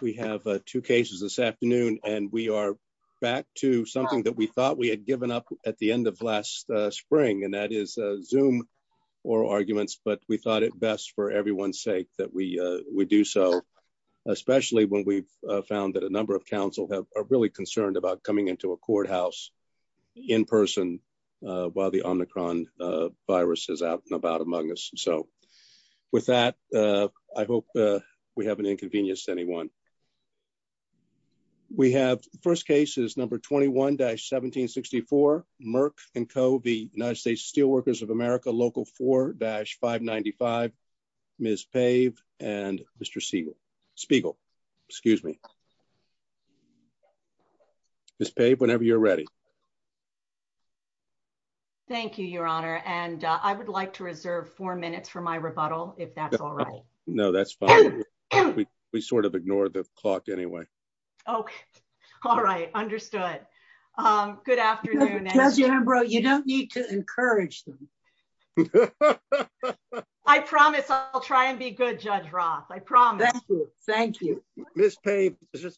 We have two cases this afternoon and we are back to something that we thought we had given up at the end of last spring and that is Zoom oral arguments but we thought it best for everyone's sake that we do so, especially when we've found that a number of council have are really concerned about coming into a courthouse in person while the Omicron virus is out and about among us. So with that I hope we haven't inconvenienced anyone. We have first case is number 21-1764 Merck and Co v United States Steel Workers of America Local 4-595 Ms. Pave and Mr. Spiegel. Ms. Pave whenever you're ready. Thank you, Your Honor, and I would like to reserve four minutes for my rebuttal, if that's all right. No, that's fine. We sort of ignored the clock anyway. Okay. All right. Understood. Good afternoon. You don't need to encourage them. I promise I'll try and be good Judge Roth. I promise. Thank you. Ms. Pave,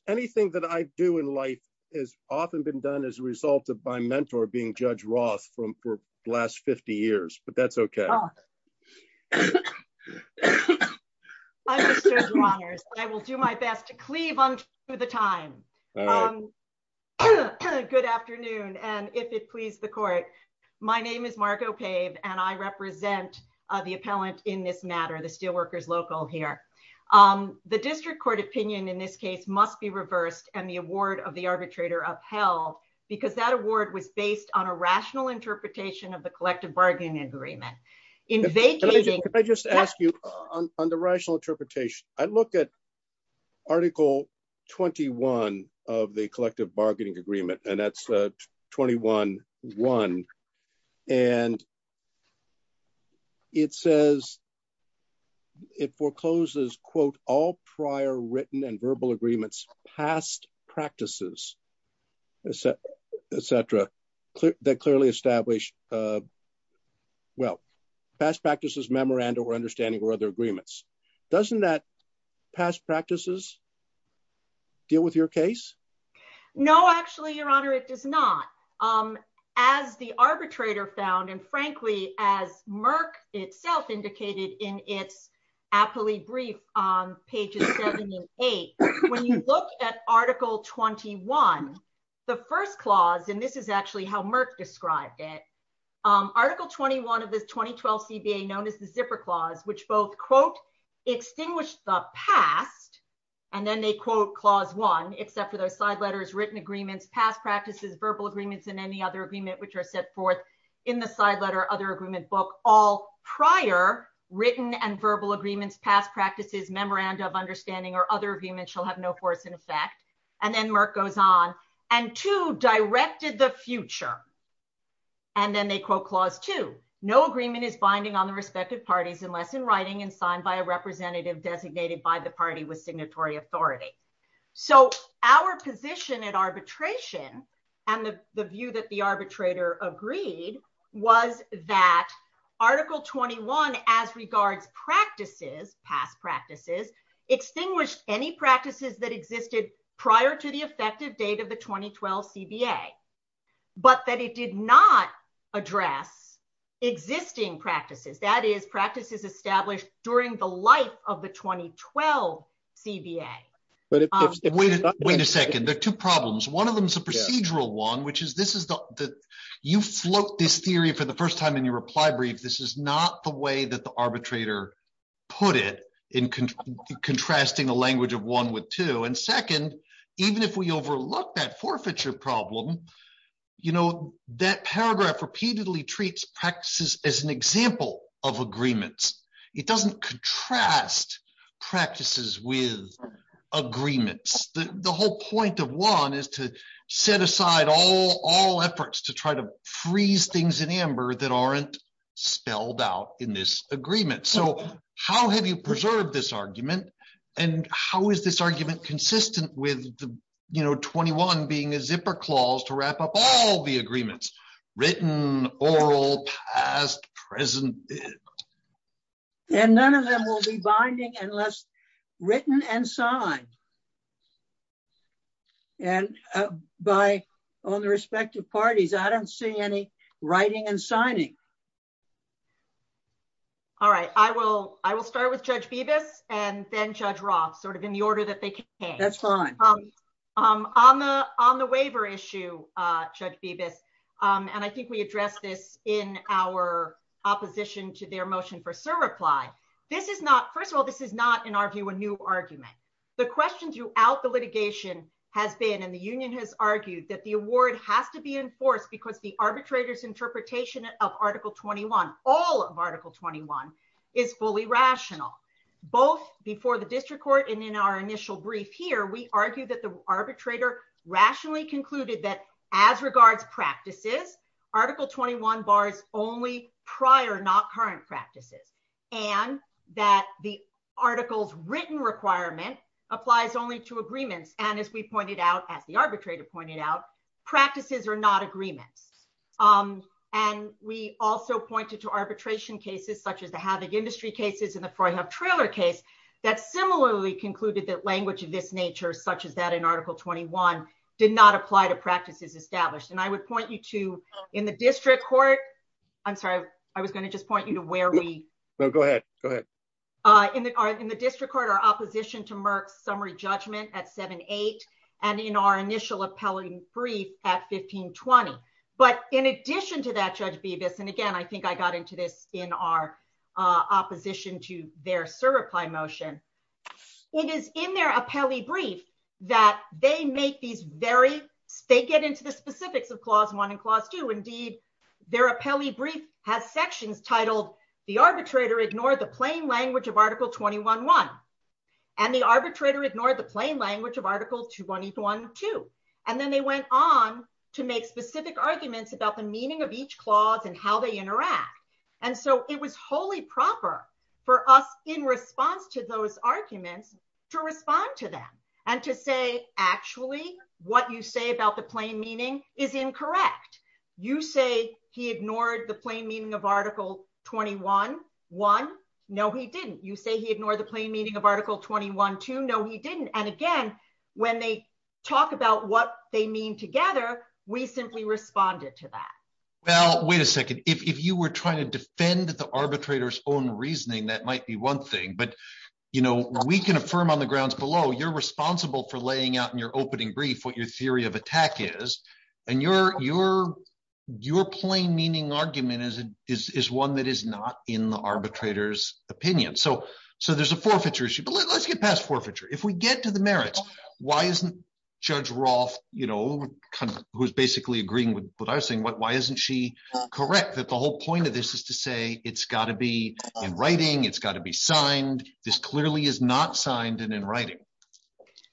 anything that I do in life has often been done as a result of my mentor being Judge Roth for the last 50 years, but that's okay. I will do my best to cleave unto the time. Good afternoon and if it please the court. My name is Margo Pave and I represent the appellant in this matter, the Steel Workers Local here. The district court opinion in this case must be reversed and the award of the arbitrator upheld because that award was based on a rational interpretation of the collective bargaining agreement. If I just ask you on the rational interpretation, I look at article 21 of the quote, all prior written and verbal agreements, past practices, et cetera, that clearly establish well, past practices, memoranda or understanding or other agreements. Doesn't that past practices deal with your case? No, actually, your honor, it does not. As the arbitrator found and frankly, as Merck itself indicated in its appellee brief on pages seven and eight, when you look at article 21, the first clause, and this is actually how Merck described it, article 21 of this 2012 CBA known as the zipper clause, which both quote, extinguished the past, and then they quote clause one, except for those side letters, written agreements, past practices, verbal agreements, and any other agreement, which are set forth in the side letter, other agreement book, all prior written and verbal agreements, past practices, memoranda of understanding or other agreements shall have no force in effect. And then Merck goes on and two, directed the future. And then they quote clause two, no agreement is binding on the respective parties unless in writing and signed by a representative designated by the party with And the view that the arbitrator agreed was that article 21, as regards practices, past practices, extinguished any practices that existed prior to the effective date of the 2012 CBA, but that it did not address existing practices, that is practices established during the life of the 2012 CBA. But wait a second, there are two problems. One of them is a procedural one, which is this is the you float this theory for the first time in your reply brief, this is not the way that the arbitrator put it in contrasting the language of one with two. And second, even if we overlook that forfeiture problem, you know, that paragraph repeatedly treats practices as an example of agreements, it doesn't contrast practices with agreements, the whole point of one is to set aside all all efforts to try to freeze things in amber that aren't spelled out in this agreement. So how have you preserved this argument? And how is this argument consistent with you know, 21 being a zipper clause to wrap up all the agreements, written, oral, past, present? And none of them will be binding unless written and signed. And by on the respective parties, I don't see any writing and signing. All right, I will, I will start with Judge Phoebus and then Judge Roth sort of in the order that they that's fine. I'm on the on the waiver issue, Judge Phoebus. And I think we address this in our opposition to their motion for Sir reply. This is not first of all, this is not in our view, a new argument. The question throughout the litigation has been in the union has argued that the award has to be enforced because the arbitrators interpretation of Article 21, all of Article 21 is fully rational, both before the district court. And in our initial brief here, we argue that the arbitrator rationally concluded that as regards practices, Article 21 bars only prior not current practices, and that the articles written requirement applies only to agreements. And as we pointed out, as the arbitrator pointed out, practices are not agreements. Um, and we also pointed to arbitration cases, such as the havoc industry cases in the Freyhub trailer case, that similarly concluded that language of this nature, such as that in Article 21, did not apply to practices established. And I would point you to in the district court. I'm sorry, I was going to just point you to where we go ahead, go ahead. In the in the district court, our opposition to Merck summary judgment at seven, eight, and in our initial appellate brief at 1520. But in addition to that, Judge Beavis, and again, I think I got into this in our opposition to their certify motion. It is in their appellate brief, that they make these very state get into the specifics of clause one and clause two. Indeed, their appellate brief has sections titled, the arbitrator ignored the plain language of Article 21 one. And the arbitrator to make specific arguments about the meaning of each clause and how they interact. And so it was wholly proper for us in response to those arguments, to respond to them. And to say, actually, what you say about the plain meaning is incorrect. You say he ignored the plain meaning of Article 21. One. No, he didn't. You say he ignored the plain meaning of Article 21. Two. No, he we simply responded to that. Well, wait a second. If you were trying to defend the arbitrator's own reasoning, that might be one thing. But, you know, we can affirm on the grounds below, you're responsible for laying out in your opening brief, what your theory of attack is, and your your, your plain meaning argument is, is one that is not in the arbitrator's opinion. So, so there's a forfeiture issue. But let's get past forfeiture. If we get to the merits, why isn't Judge Roth, you know, who's basically agreeing with what I was saying, why isn't she correct that the whole point of this is to say, it's got to be in writing, it's got to be signed. This clearly is not signed and in writing.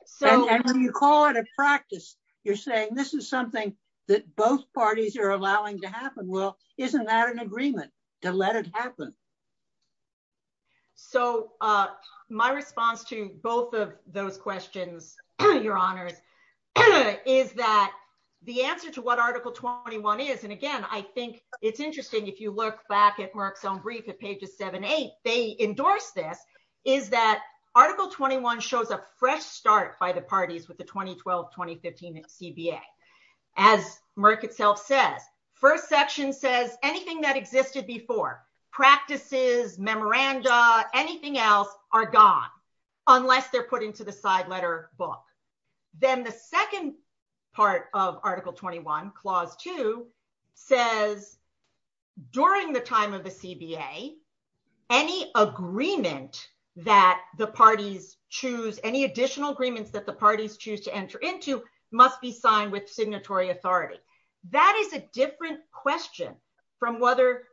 So when you call it a practice, you're saying this is something that both parties are allowing to happen. Well, isn't that an agreement to let it happen? So my response to both of those questions, your honors, is that the answer to what Article 21 is, and again, I think it's interesting, if you look back at Merck's own brief at pages seven, eight, they endorse this, is that Article 21 shows a fresh start by the parties with the 2012-2015 CBA. As Merck itself says, first section says anything that existed before, practices, memoranda, anything else are gone, unless they're put into the side letter book. Then the second part of Article 21, Clause 2, says during the time of the CBA, any agreement that the parties choose, any additional agreements that the parties choose to enter into, must be signed with signatory authority. That is a different question from whether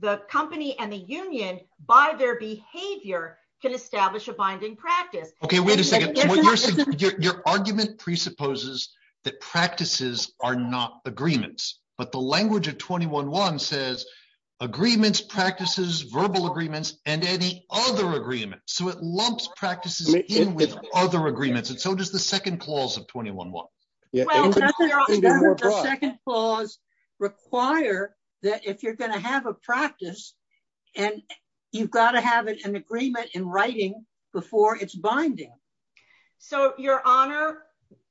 the company and the union, by their behavior, can establish a binding practice. Okay, wait a second. Your argument presupposes that practices are not agreements, but the language of 21-1 says agreements, practices, verbal agreements, and any other agreements. So it was the second clause of 21-1. Well, doesn't the second clause require that if you're going to have a practice, and you've got to have an agreement in writing before it's binding? So, Your Honor,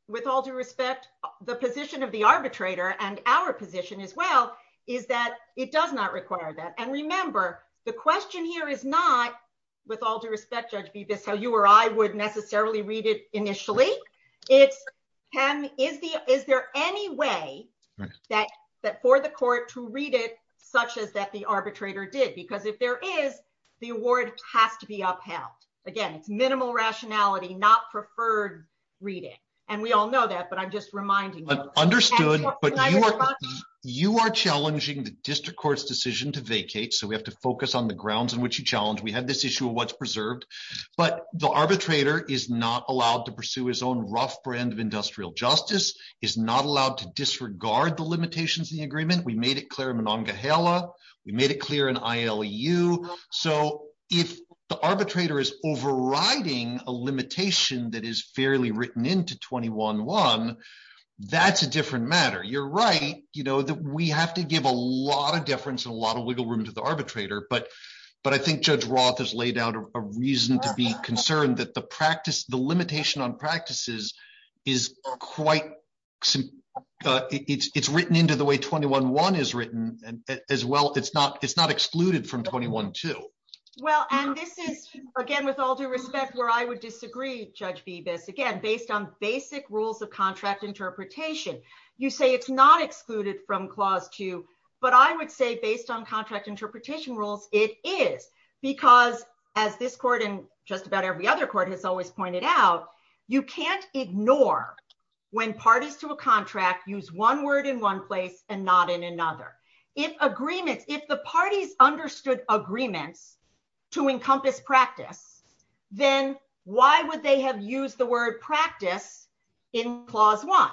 with all due respect, the position of the arbitrator, and our position as well, is that it does not require that. And remember, the question here is not, with all due respect, how you or I would necessarily read it initially. It's, is there any way for the court to read it such as that the arbitrator did? Because if there is, the award has to be upheld. Again, it's minimal rationality, not preferred reading. And we all know that, but I'm just reminding you. Understood, but you are challenging the district court's decision to vacate. So we have to focus on the grounds in which you challenge. We have this issue of what's preserved, but the arbitrator is not allowed to pursue his own rough brand of industrial justice, is not allowed to disregard the limitations of the agreement. We made it clear in Monongahela. We made it clear in ILU. So if the arbitrator is overriding a limitation that is fairly written into 21-1, that's a different matter. You're right, you know, that we have to give a lot deference and a lot of wiggle room to the arbitrator, but I think Judge Roth has laid out a reason to be concerned that the practice, the limitation on practices is quite, it's written into the way 21-1 is written as well. It's not excluded from 21-2. Well, and this is again, with all due respect, where I would disagree, Judge Bibas, again, based on basic rules of based on contract interpretation rules, it is because as this court and just about every other court has always pointed out, you can't ignore when parties to a contract use one word in one place and not in another. If agreements, if the parties understood agreements to encompass practice, then why would they have used the word practice in clause one?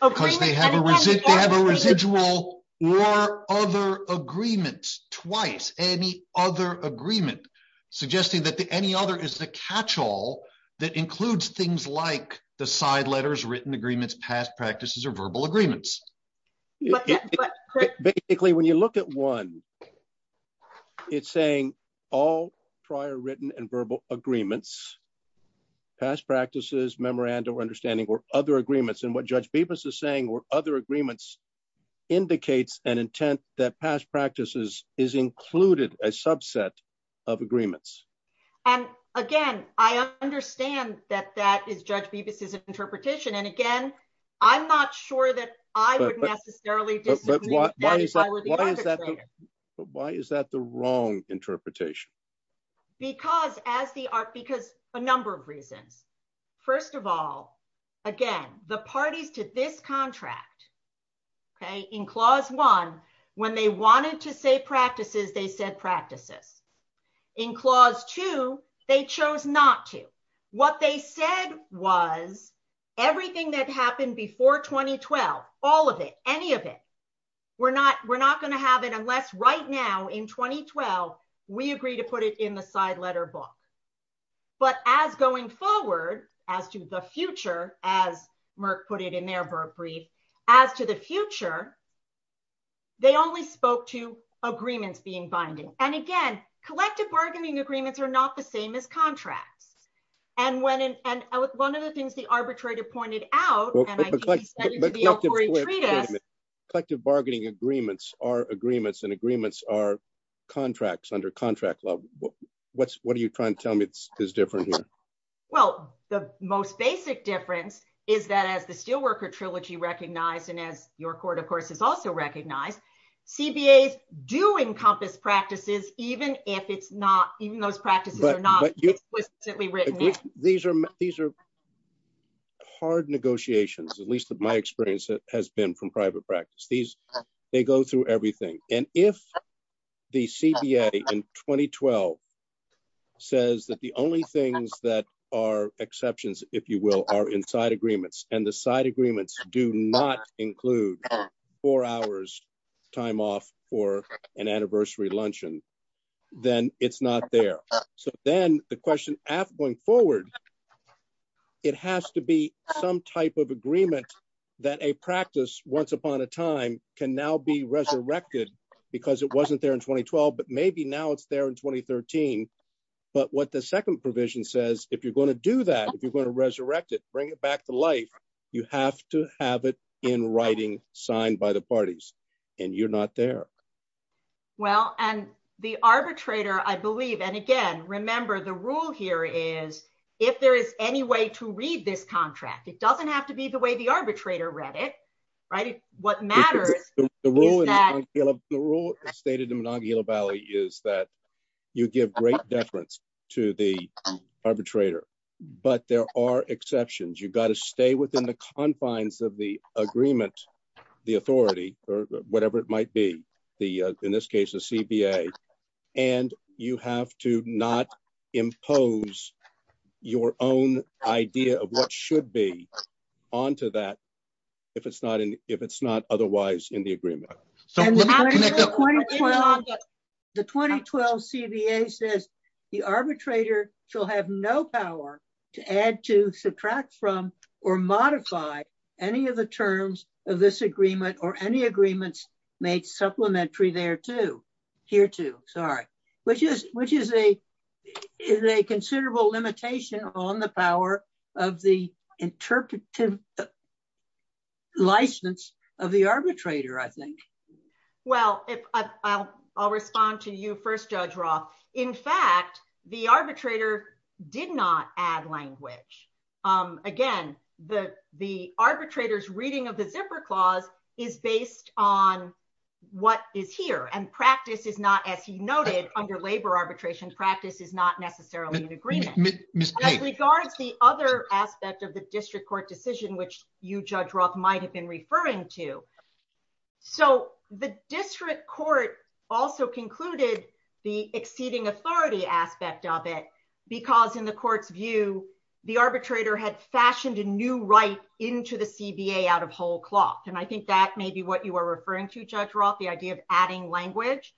Because they have a residual or other agreements twice, any other agreement, suggesting that any other is the catch-all that includes things like the side letters, written agreements, past practices, or verbal agreements. Basically, when you look at one, it's saying all prior and verbal agreements, past practices, memoranda or understanding or other agreements. And what Judge Bibas is saying or other agreements indicates an intent that past practices is included a subset of agreements. And again, I understand that that is Judge Bibas's interpretation. And again, I'm not sure that I would necessarily disagree. Why is that the wrong interpretation? Because as the art, because a number of reasons. First of all, again, the parties to this contract, okay, in clause one, when they wanted to say practices, they said practices. In clause two, they chose not to. What they said was everything that happened before 2012, all of it, any of it, we're not going to have it unless right now in 2012, we agree to put it in the side letter book. But as going forward, as to the future, as Merck put it in their brief, as to the future, they only spoke to agreements being binding. And again, collective bargaining agreements are not the same as contracts. And one of the things the collective bargaining agreements are agreements and agreements are contracts under contract law. What's what are you trying to tell me is different here? Well, the most basic difference is that as the steelworker trilogy recognized and as your court, of course, is also recognized, CBAs do encompass practices, even if it's not even those practices are not written, these are these are hard negotiations, at least my experience has been from private practice, these, they go through everything. And if the CBA in 2012, says that the only things that are exceptions, if you will, are inside agreements, and the side agreements do not include four hours, time off for an anniversary luncheon, then it's not there. So then the question going forward, it has to be some type of agreement, that a practice once upon a time can now be resurrected, because it wasn't there in 2012. But maybe now it's there in 2013. But what the second provision says, if you're going to do that, if you're going to resurrect it, bring it back to life, you have to have it in writing, signed by the parties, and you're not there. Well, and the arbitrator, I believe, and again, remember, the rule here is, if there is any way to read this contract, it doesn't have to be the way the arbitrator read it. Right? What matters? The rule stated in Nagila Valley is that you give great deference to the arbitrator. But there are confines of the agreement, the authority, or whatever it might be, the in this case, the CBA, and you have to not impose your own idea of what should be onto that, if it's not in if it's not otherwise in the agreement. So the 2012 CBA says, the arbitrator shall have no power to add to subtract from or modify any of the terms of this agreement or any agreements made supplementary there to here to sorry, which is which is a is a considerable limitation on the power of the interpretive license of the arbitrator, I think. Well, if I'll, I'll respond to you first, Judge Roth. In fact, the arbitrator did not add language. Again, the the arbitrators reading of the zipper clause is based on what is here and practice is not as he noted, under labor arbitration practice is not necessarily an agreement. Regards the other aspect of the district court decision, which you judge Roth might have been referring to. So the district court also concluded the exceeding authority aspect of it, because in the court's view, the arbitrator had fashioned a new right into the CBA out of whole cloth. And I think that may be what you are referring to, Judge Roth, the idea of adding language.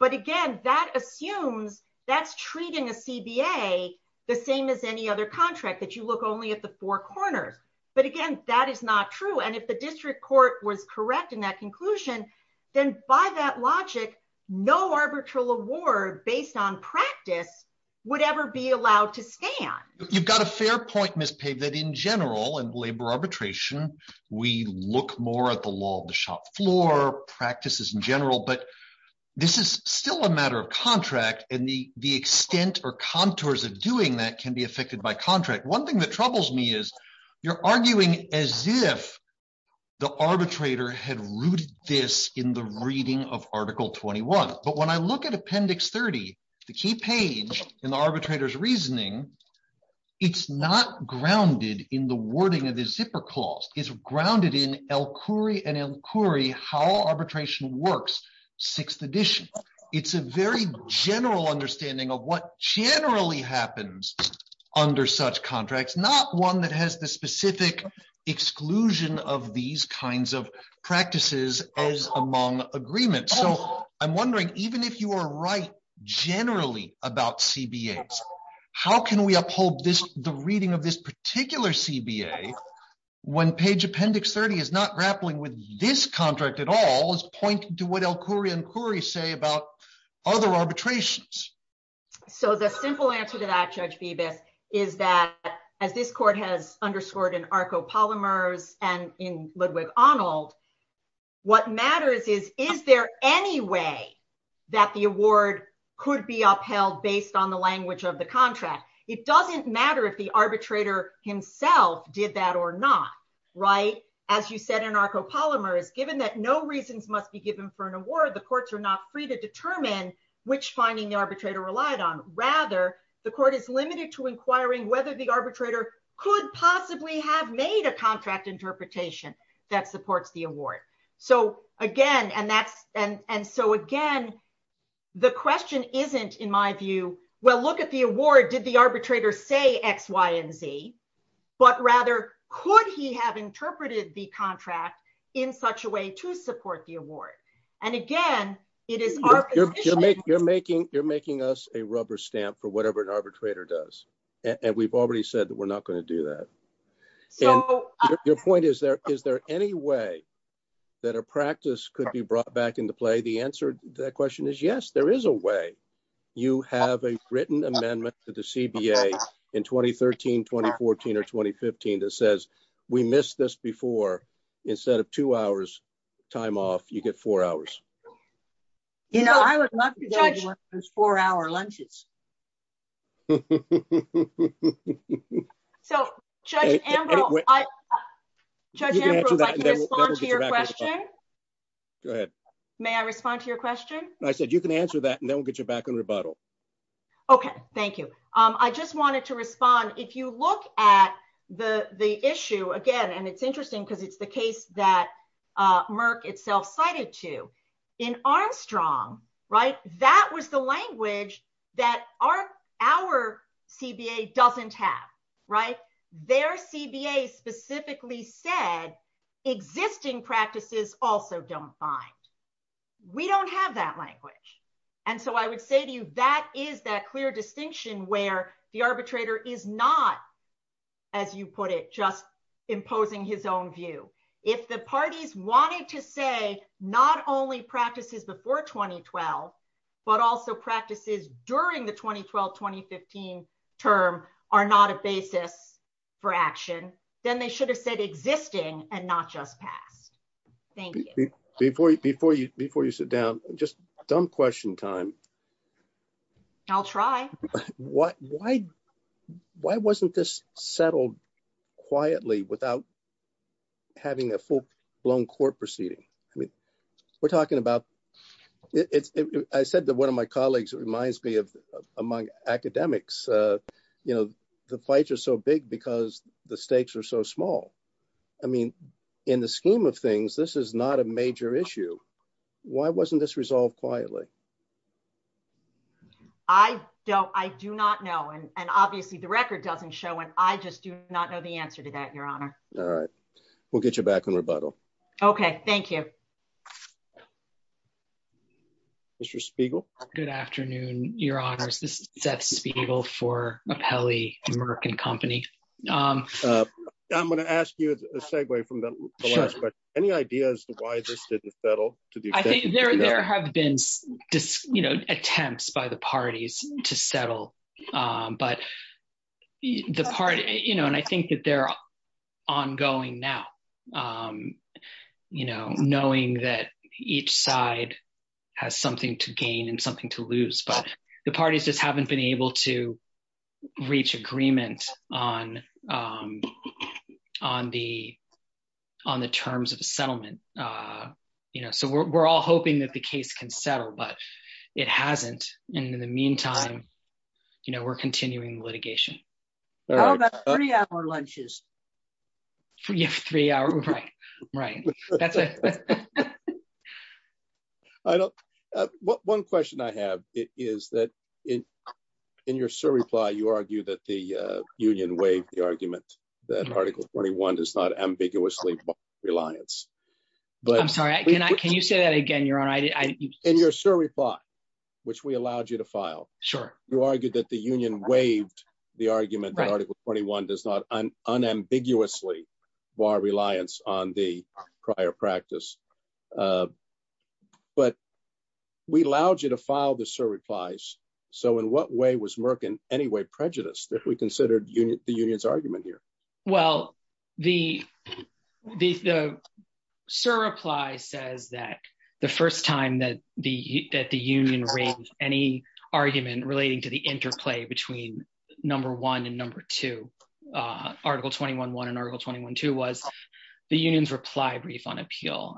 But again, that assumes that's treating a CBA the same as any other contract that you look only at the four corners. But again, that is not true. And if the district court was correct in that conclusion, then by that logic, no arbitral award based on practice would ever be allowed to stand. You've got a fair point, Ms. Pave that in general and labor arbitration, we look more at the law of the shop floor practices in general, but this is still a matter of contract and the extent or contours of doing that can be affected by contract. One thing that troubles me is you're arguing as if the arbitrator had rooted this in the reading of Article 21. But when I look at Appendix 30, the key page in the arbitrator's reasoning, it's not grounded in the wording of the zipper clause. It's grounded in El Khoury and El Khoury, how arbitration works, sixth edition. It's a very general understanding of what generally happens under such contracts, not one that has the specific exclusion of these kinds of practices as among agreements. So I'm wondering, even if you are right, generally about CBAs, how can we uphold the reading of this particular CBA when page Appendix 30 is not grappling with this contract at all as point to what El Khoury and Khoury say about other arbitrations? So the simple answer to that, Judge Bibas, is that as this court has underscored in ARCO polymers and in Ludwig Arnold, what matters is, is there any way that the award could be upheld based on the language of the contract? It doesn't matter if the arbitrator himself did that or not. As you said in ARCO polymers, given that no reasons must be given for an award, the courts are not free to determine which finding the arbitrator relied on. Rather, the court is limited to inquiring whether the arbitrator could possibly have made a contract interpretation that supports the award. So again, the question isn't, in my view, well, look at the award. Did the arbitrator say X, Y, and Z? But rather, could he have interpreted the contract in such a way to support the award? And again, it is our position. You're making us a rubber stamp for whatever an arbitrator does. And we've already said that we're not going to do that. Your point is, is there any way that a practice could be brought back into play? The answer to that question is yes, there is a way. You have a written amendment to the CBA in 2013, 2014, or 2015 that says we missed this before. Instead of two hours time off, you get four hours. You know, I would love to go to one of those four-hour lunches. So Judge Ambrose, I can respond to your question. Go ahead. May I respond to your question? I said you can answer that, and then we'll get you back on rebuttal. Okay, thank you. I just wanted to respond. If you look at the issue again, and it's interesting because it's the case that Merck itself cited too, in Armstrong, right, that was the language that our CBA doesn't have, right? Their CBA specifically said existing practices also don't bind. We don't have that language. And so I would say to you, that is that clear distinction where the arbitrator is not, as you put it, just imposing his own view. If the parties wanted to say not only practices before 2012, but also practices during the 2012-2015 term are not a basis for action, then they should have said existing and not just past. Thank you. Before you sit down, just dumb question time. I'll try. Why wasn't this settled quietly without having a full-blown court proceeding? I mean, we're talking about, I said that one of my colleagues reminds me of, among academics, you know, the fights are so big because the stakes are so small. I mean, in the scheme of things, this is not a major issue. Why wasn't this resolved quietly? I don't, I do not know. And obviously the record doesn't show it. I just do not know the answer to that, your honor. All right. We'll get you back on rebuttal. Okay. Thank you. Mr. Spiegel. Good afternoon, your honors. This is Seth Spiegel for Apelli Merck and Company. I'm going to ask you a segue from the last question. Any ideas as to why this didn't settle? I think there have been, you know, attempts by the parties to settle, but the party, you know, and I think that they're ongoing now, you know, knowing that each side has something to gain and something to lose, but the parties just haven't been able to on the, on the terms of the settlement. You know, so we're, we're all hoping that the case can settle, but it hasn't. And in the meantime, you know, we're continuing litigation. How about three hour lunches? Three hour, right, right. I don't, one question I have is that in, in your surreply, you argue that the union waived the article 21 does not ambiguously reliance. I'm sorry. Can I, can you say that again? In your surreply, which we allowed you to file. Sure. You argued that the union waived the argument that article 21 does not unambiguously bar reliance on the prior practice. But we allowed you to file the surreplies. So in what way was Merck in any way prejudiced if we considered the union's argument here? Well, the, the surreply says that the first time that the, that the union raised any argument relating to the interplay between number one and number two, article 21 one and article 21 two was the union's reply brief on appeal.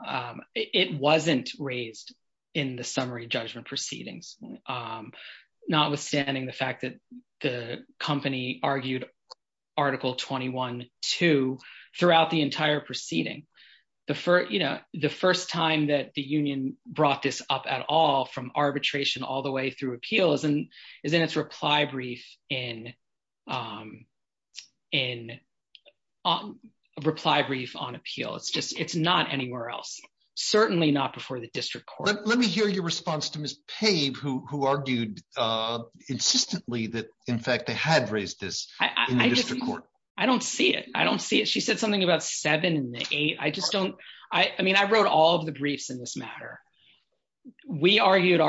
It wasn't raised in the article 21 two throughout the entire proceeding. The first, you know, the first time that the union brought this up at all from arbitration all the way through appeals and is in its reply brief in, in reply brief on appeal. It's just, it's not anywhere else. Certainly not before the district court. Let me hear your response to Ms. Pave who, who argued insistently that in fact they had raised this in the district court. I don't see it. I don't see it. She said something about seven and the eight. I just don't, I mean, I wrote all of the briefs in this matter. We argued,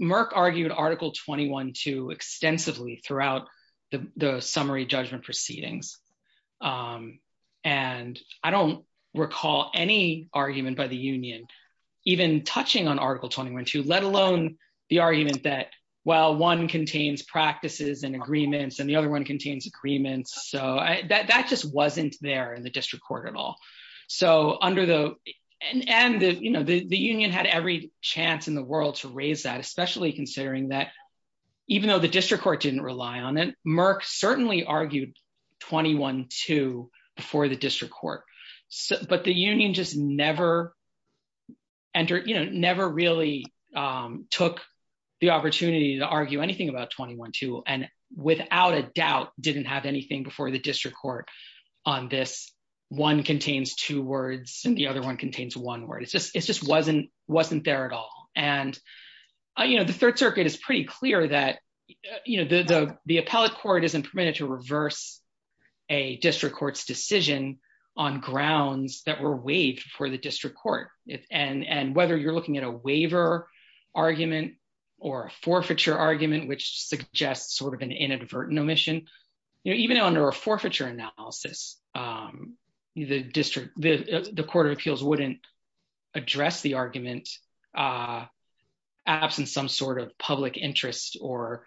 Merck argued article 21 two extensively throughout the summary judgment proceedings. And I don't recall any argument by the union, even touching on article 21 two, let alone the argument that, well, one contains practices and agreements and the other one contains agreements. So I, that, that just wasn't there in the district court at all. So under the, and, and the, you know, the, the union had every chance in the world to raise that, especially considering that even though the district court didn't rely on it, Merck certainly argued 21 two before the opportunity to argue anything about 21 two. And without a doubt, didn't have anything before the district court on this one contains two words and the other one contains one word. It's just, it's just, wasn't, wasn't there at all. And, you know, the third circuit is pretty clear that, you know, the, the, the appellate court isn't permitted to reverse a district court's decision on grounds that were waived for the district court. And, and whether you're looking at a waiver argument or a forfeiture argument, which suggests sort of an inadvertent omission, you know, even under a forfeiture analysis the district, the court of appeals wouldn't address the argument absent some sort of public interest or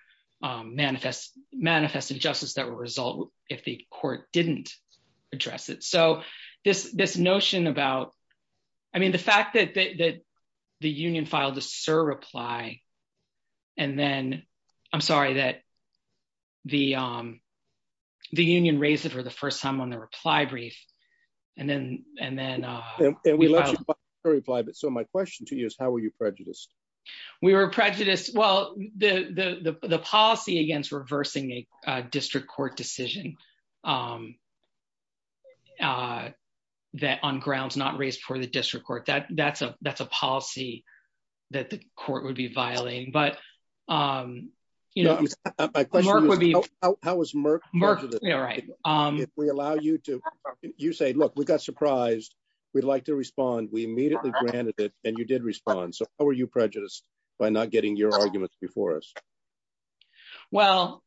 manifest, manifest injustice that will result if the court didn't address it. So this, this notion about, I mean, the fact that, that the union filed a surreply, and then I'm sorry, that the, the union raised it for the first time on the reply brief. And then, and then, and we let you reply. But so my question to you is how were you prejudiced? We were prejudiced. Well, the, the, the, the policy against reversing a district court decision that on grounds not raised for the district court, that's a, that's a policy that the court would be violating. But, you know, how was Merck? Right. If we allow you to, you say, look, we got surprised. We'd like to respond. We immediately granted it. And you did respond. So how are you prejudiced by not getting your arguments before us? Well,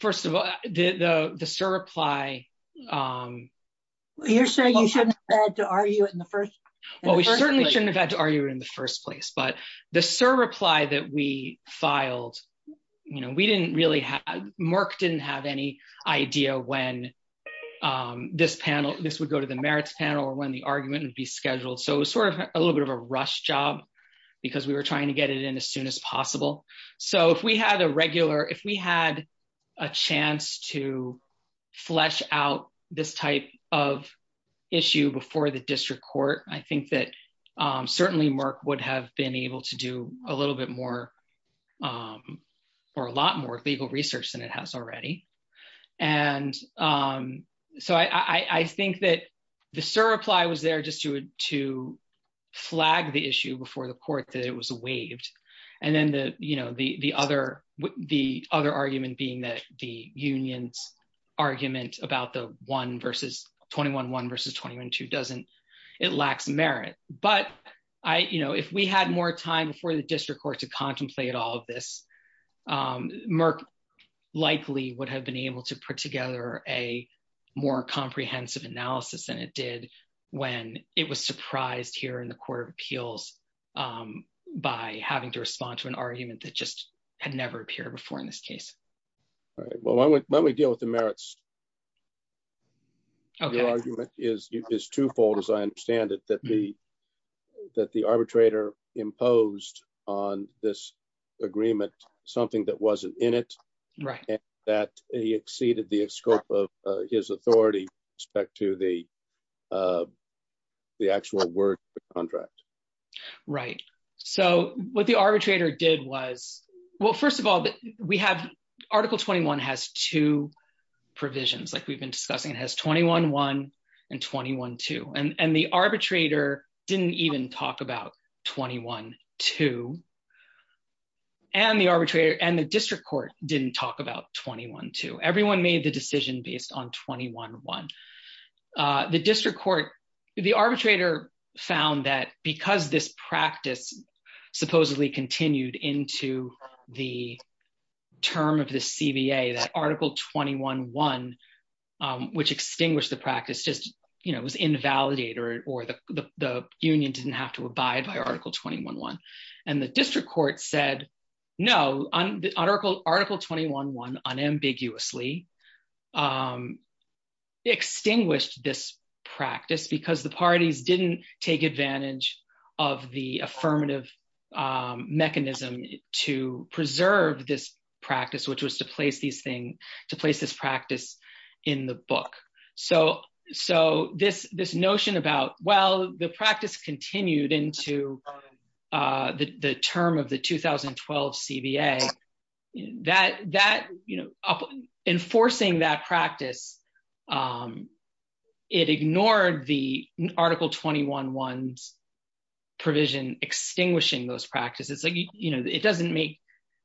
first of all, the, the, the surreply, you're saying you shouldn't have had to argue it in the first. Well, we certainly shouldn't have had to argue it in the first place, but the surreply that we filed, you know, we didn't really have, Merck didn't have any idea when this panel, this would go to the merits panel or when the argument would be scheduled. So it was sort of a little bit of a rush job because we were trying to get it in as soon as possible. So if we had a regular, if we had a chance to flesh out this type of issue before the district court, I think that certainly Merck would have been able to do a little bit more or a lot more legal research than it has already. And so I think that the surreply was there just to, to flag the issue before the court that it was waived. And then the, you know, the other, the other argument being that the union's argument about the one versus 21.1 versus 21.2 doesn't, it lacks merit, but I, you know, if we had more time before the district court to contemplate all of this, Merck likely would have been able to put together a more comprehensive analysis than it did when it was surprised here in the court of appeals by having to respond to argument that just had never appeared before in this case. Right. Well, when we deal with the merits, your argument is, is twofold as I understand it, that the, that the arbitrator imposed on this agreement, something that wasn't in it, that he exceeded the scope of his authority respect to the, the actual word contract. Right. So what the arbitrator did was, well, first of all, we have article 21 has two provisions, like we've been discussing, it has 21.1 and 21.2 and the arbitrator didn't even talk about 21.2 and the arbitrator and the the district court, the arbitrator found that because this practice supposedly continued into the term of the CBA, that article 21.1 which extinguished the practice just, you know, it was invalidated or the union didn't have to abide by article 21.1 and the district court said no, article 21.1 unambiguously extinguished this practice because the parties didn't take advantage of the affirmative mechanism to preserve this practice, which was to place these things, to place this practice in the book. So, so this, this notion about, well, the practice continued into the term of the 2012 CBA, that, that, you know, enforcing that practice, it ignored the article 21.1 provision extinguishing those practices. Like, you know, it doesn't make,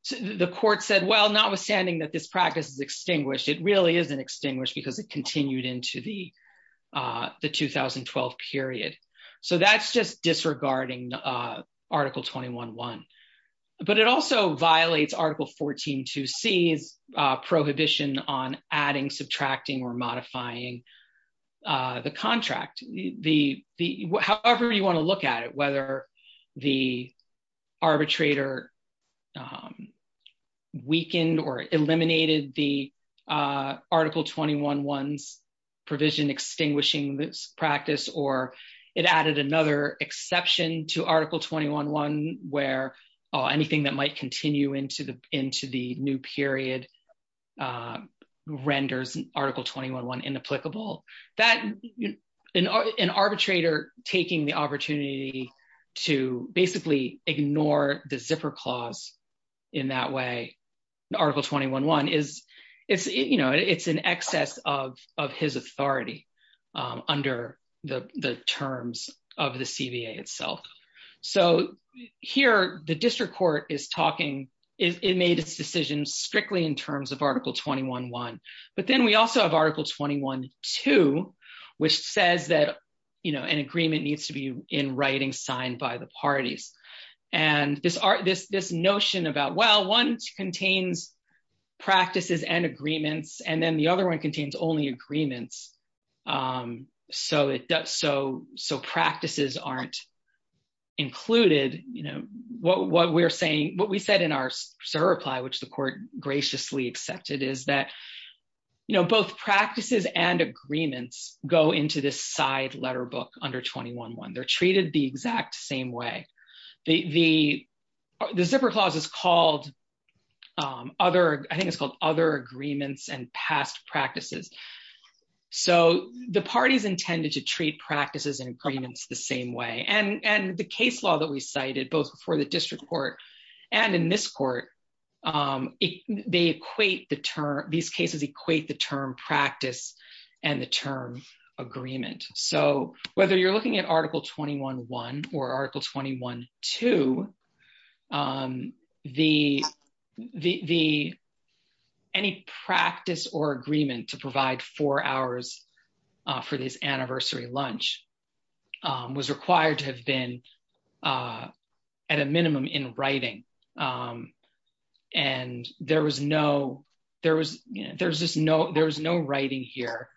the court said, well, notwithstanding that this practice is extinguished, it really isn't extinguished because it continued into the, the 2012 period. So that's just disregarding article 21.1. But it also violates article 14.2C's prohibition on adding, subtracting, or modifying the contract. The, the, however you want to look at it, whether the arbitrator weakened or eliminated the article 21.1's provision extinguishing this practice, or it added another exception to article 21.1 where anything that might continue into the, into the new period renders article 21.1 inapplicable. That, an arbitrator taking the opportunity to basically ignore the zipper clause in that way, article 21.1 is, it's, you know, it's an excess of, of his authority under the, the terms of the CBA itself. So here the district court is talking, it made its decision strictly in terms of article 21.1. But then we also have article 21.2, which says that, you know, an agreement needs to be in writing, signed by the parties. And this art, this, this notion about, well, one contains practices and agreements, and then the other one contains only agreements. So it does, so, so practices aren't included, you know, what, what we're saying, what we said in our surreply, which the court graciously accepted is that, you know, both practices and agreements go into this side letter book under 21.1. They're treated the exact same way. The, the, the zipper clause is called other, I think it's called other agreements and past practices. So the parties intended to treat practices and agreements the same way. And, and the case law that we cited both before the district court and in this court, they equate the term, these cases equate the term practice and the term agreement. So whether you're looking at article 21.1 or article 21.2, the, the, the, any practice or agreement to provide four hours for this anniversary lunch was required to have been at a minimum in writing. And there was no, there was, there's just no, there was no writing here.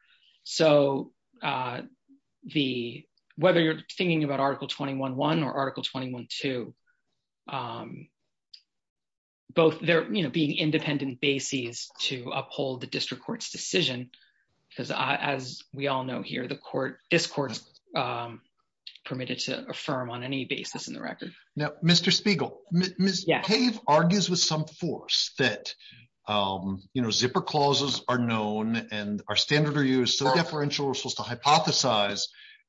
So the, whether you're thinking about article 21.1 or article 21.2, both there, you know, being independent bases to uphold the district court's decision, because as we all know here, the court discourse permitted to affirm on any basis in the record. Now, Mr. Spiegel, Ms. Cave argues with some force that, you know, zipper clauses are known and our standard review is still deferential. We're supposed to hypothesize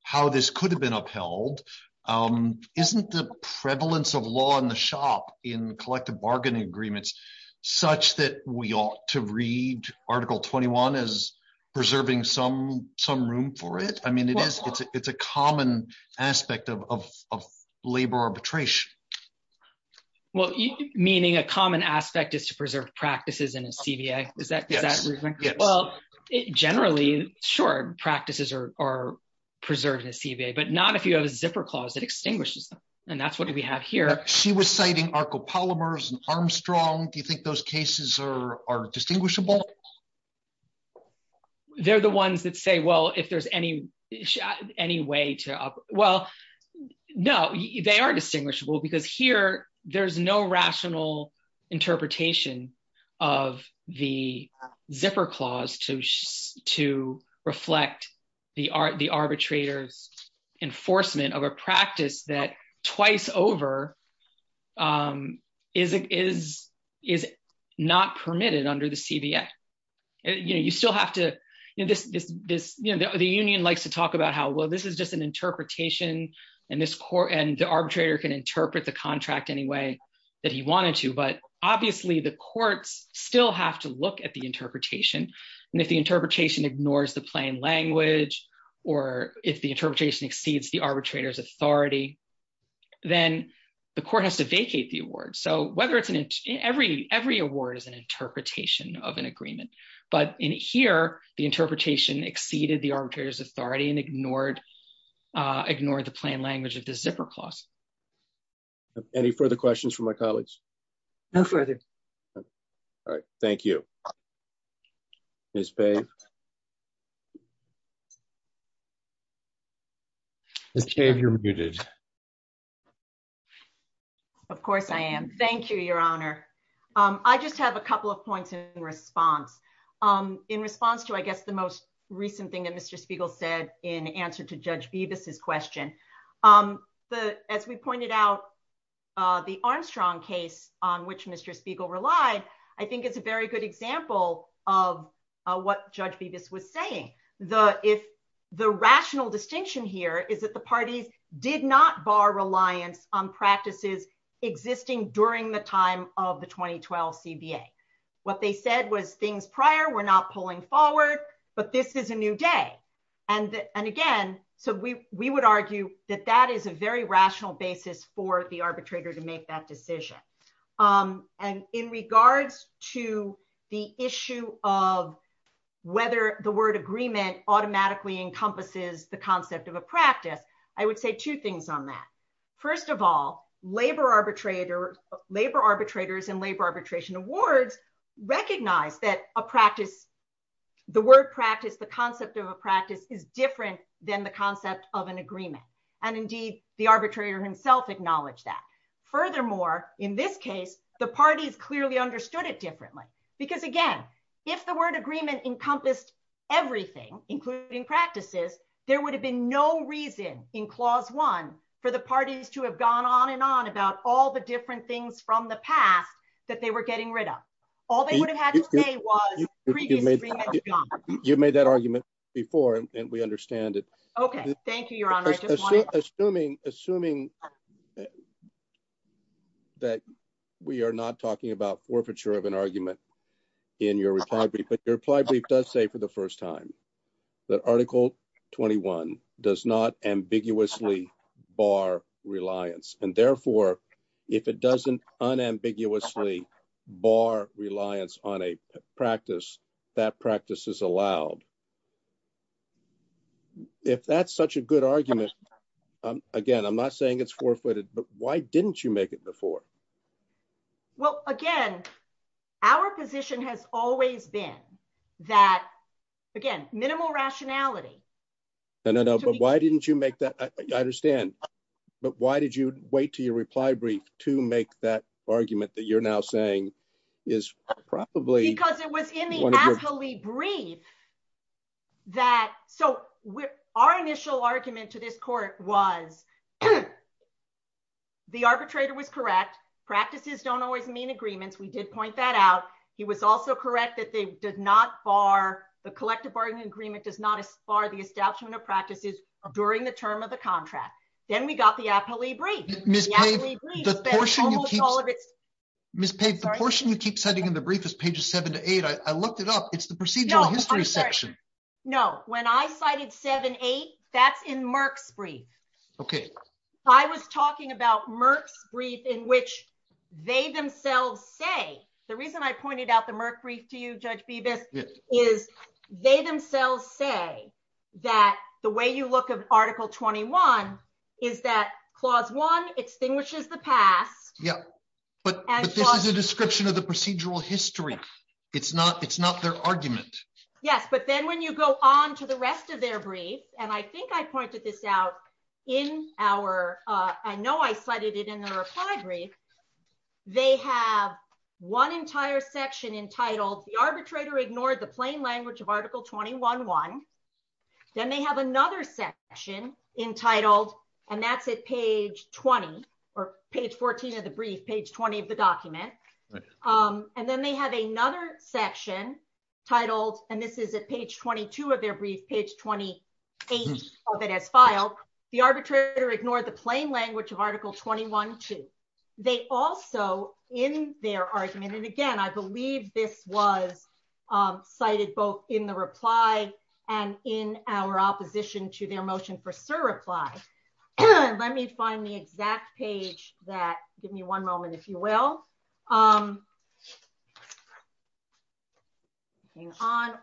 how this could have been upheld. Isn't the prevalence of law in the shop in collective bargaining agreements, such that we ought to read article 21 as preserving some, some room for it. I mean, it is, it's a, it's a common aspect of, of, of labor arbitration. Well, meaning a common aspect is to preserve practices in a CBA. Is that, is that, well, generally short practices are, are preserved in a CBA, but not if you have a zipper clause that extinguishes them. And that's what we have here. She was citing Arco polymers and Armstrong. Do you think those cases are, are distinguishable? They're the ones that say, well, if there's any, any way to, well, no, they are distinguishable because here there's no rational interpretation of the zipper clause to, to reflect the art, enforcement of a practice that twice over is, is, is not permitted under the CBA. You know, you still have to, you know, this, this, this, you know, the union likes to talk about how, well, this is just an interpretation and this court and the arbitrator can interpret the contract any way that he wanted to. But obviously the courts still have to look at interpretation. And if the interpretation ignores the plain language, or if the interpretation exceeds the arbitrator's authority, then the court has to vacate the award. So whether it's an every, every award is an interpretation of an agreement, but in here, the interpretation exceeded the arbitrator's authority and ignored ignored the plain language of the zipper clause. Any further questions for my colleagues? No further. All right. Thank you. Ms. Pave. Ms. Pave, you're muted. Of course I am. Thank you, your honor. I just have a couple of points in response. In response to, I guess, the most recent thing that Mr. Spiegel said in answer to Judge Bevis's question, the, as we pointed out the Armstrong case on which Mr. Spiegel relied, I think it's a very good example of what Judge Bevis was saying. The, if the rational distinction here is that the parties did not bar reliance on practices existing during the time of the 2012 CBA. What they said was things prior were not pulling forward, but this is a new day. And, and again, so we, we would argue that that is a very rational basis for the arbitrator to make that decision. And in regards to the issue of whether the word agreement automatically encompasses the concept of a practice, I would say two things on that. First of all, labor arbitrator, labor arbitrators and labor arbitration awards recognize that a practice, the word practice, the concept of a agreement, and indeed the arbitrator himself acknowledged that. Furthermore, in this case, the parties clearly understood it differently because again, if the word agreement encompassed everything, including practices, there would have been no reason in clause one for the parties to have gone on and on about all the different things from the past that they were getting rid of. All they would have had to say was you made that argument before and we understand it. Okay. Thank you, your honor. Assuming, assuming that we are not talking about forfeiture of an argument in your reply, but your reply brief does say for the first time that article 21 does not ambiguously bar reliance. And therefore, if it doesn't unambiguously bar reliance on a practice, that practice is allowed. If that's such a good argument, again, I'm not saying it's forfeited, but why didn't you make it before? Well, again, our position has always been that again, minimal rationality. No, no, no. But why didn't you make that? I understand. But why did you wait to your reply brief to make that argument that you're now saying is probably- Because it was in the absolutely brief that, so our initial argument to this court was the arbitrator was correct. Practices don't always mean agreements. We did point that out. He was also correct that they did not bar the collective bargaining agreement does not as practices during the term of the contract. Then we got the appellee brief. Ms. Pave, the portion you keep setting in the brief is pages seven to eight. I looked it up. It's the procedural history section. No, when I cited seven, eight, that's in Merck's brief. I was talking about Merck's brief in which they themselves say, the reason I pointed out the Merck brief to you, Judge Bibas, is they themselves say that the way you look at article 21 is that clause one extinguishes the past. But this is a description of the procedural history. It's not their argument. Yes. But then when you go on to the rest of their brief, and I think I pointed this out in our, I know I cited it in the reply brief, they have one entire section entitled, the arbitrator ignored the plain language of article 21-1. Then they have another section entitled, and that's at page 20, or page 14 of the brief, page 20 of the document. Then they have another section titled, and this is at page 22 of their brief, page 28 of it as filed, the arbitrator ignored the plain language of article 21-2. They also, in their argument, and again, I believe this was cited both in the reply and in our opposition to their motion for surreply. Let me find the exact page that, give me one moment, if you will,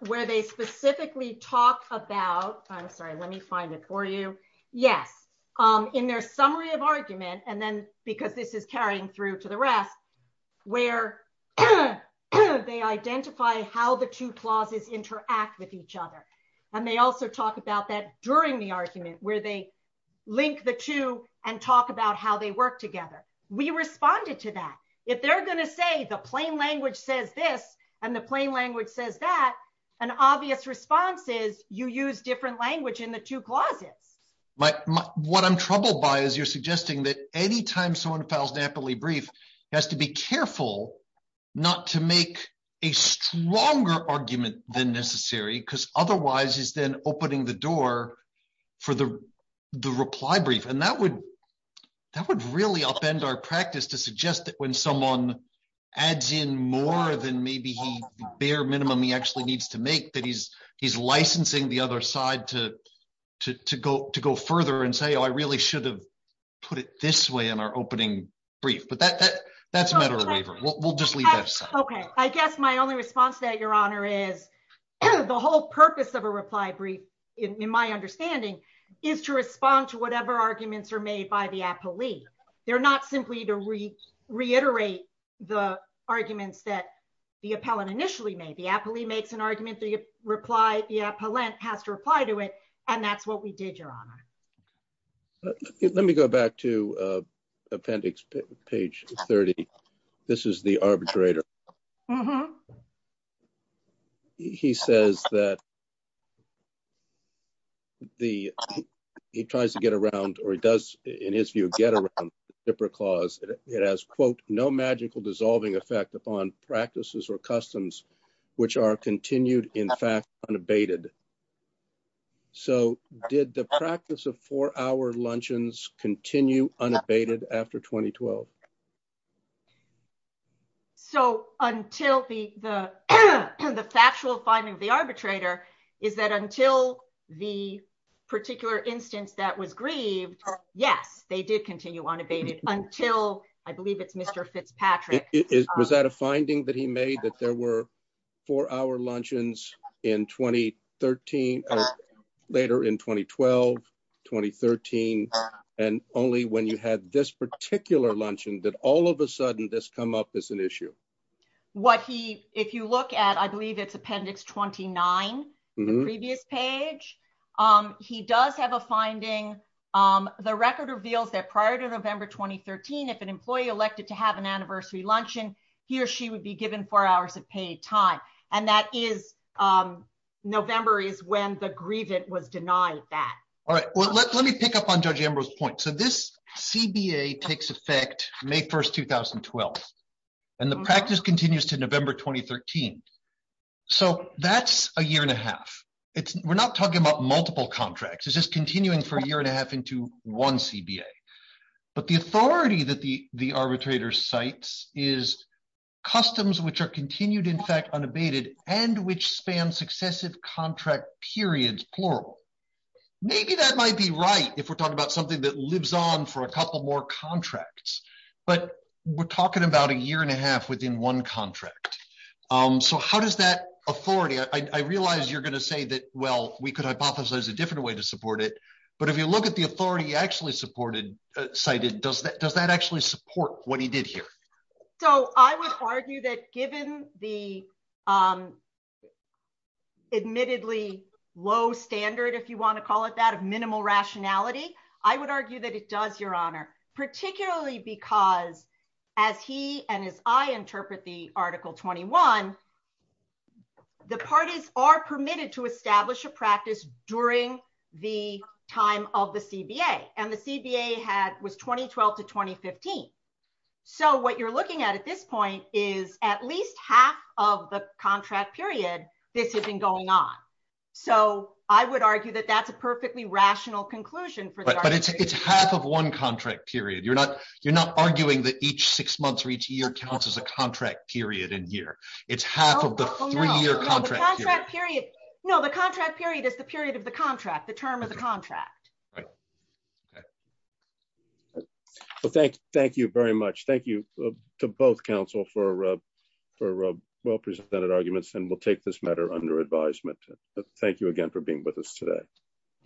where they specifically talk about, I'm sorry, let me find it for you. Yes. In their summary of argument, and then because this is carrying through to the rest, where they identify how the two clauses interact with each other. They also talk about that during the argument where they link the two and talk about how they work together. We responded to that. If they're going to say the plain language says this, and the plain language says that, an obvious response is you use different language in the two clauses. What I'm troubled by is you're suggesting that anytime someone files an appellee brief, he has to be careful not to make a stronger argument than necessary, because otherwise, he's then opening the door for the reply brief. That would really upend our practice to suggest that when someone adds in more than maybe the bare minimum he actually needs to make, that he's licensing the other side to go further and say, oh, I really should have put it this way in our opening brief. That's a matter of waiver. We'll just leave that aside. Okay. I guess my only response to that, Your Honor, is the whole purpose of a reply brief, in my understanding, is to respond to whatever arguments are made by the appellee. They're not simply to reiterate the arguments that the appellant initially made. The appellee makes an argument, the appellant has to reply to it, and that's what we did, Your Honor. Let me go back to appendix page 30. This is the arbitrator. He says that he tries to get around, or he does, in his view, get around the Shipper Clause. It has, quote, no magical dissolving effect upon practices or customs, which are continued, in fact, unabated. So did the practice of four-hour luncheons continue unabated after 2012? So until the factual finding of the arbitrator is that until the particular instance that was grieved, yes, they did continue unabated until, I believe it's Mr. Fitzpatrick. Was that a finding that he made, that there were four-hour luncheons in 2013, later in 2012, 2013, and only when you had this particular luncheon did all of a sudden this come up as an issue? What he, if you look at, I believe it's appendix 29, the previous page, he does have a finding. The record reveals that prior to November 2013, if an employee elected to have an anniversary luncheon, he or she would be given four hours of paid time, and that is, November is when the Let me pick up on Judge Ambrose's point. So this CBA takes effect May 1, 2012, and the practice continues to November 2013. So that's a year and a half. We're not talking about multiple contracts. It's just continuing for a year and a half into one CBA. But the authority that the arbitrator cites is customs which are continued, in fact, unabated, and which successive contract periods, plural. Maybe that might be right if we're talking about something that lives on for a couple more contracts. But we're talking about a year and a half within one contract. So how does that authority, I realize you're going to say that, well, we could hypothesize a different way to support it, but if you look at the authority he actually cited, does that actually support what he did here? So I would argue that given the admittedly low standard, if you want to call it that, of minimal rationality, I would argue that it does, Your Honor, particularly because as he and as I interpret the Article 21, the parties are permitted to establish a practice during the time of the CBA, and the CBA was 2012 to 2015. So what you're looking at at this point is at least half of the contract period, this has been going on. So I would argue that that's a perfectly rational conclusion. But it's half of one contract period. You're not arguing that each six months or each year counts as a contract period and year. It's half of the three-year contract period. No, the contract period is the period of the contract, the term of the contract. Right. Okay. Well, thank you very much. Thank you to both counsel for well-presented arguments, and we'll take this matter under advisement. Thank you again for being with us today.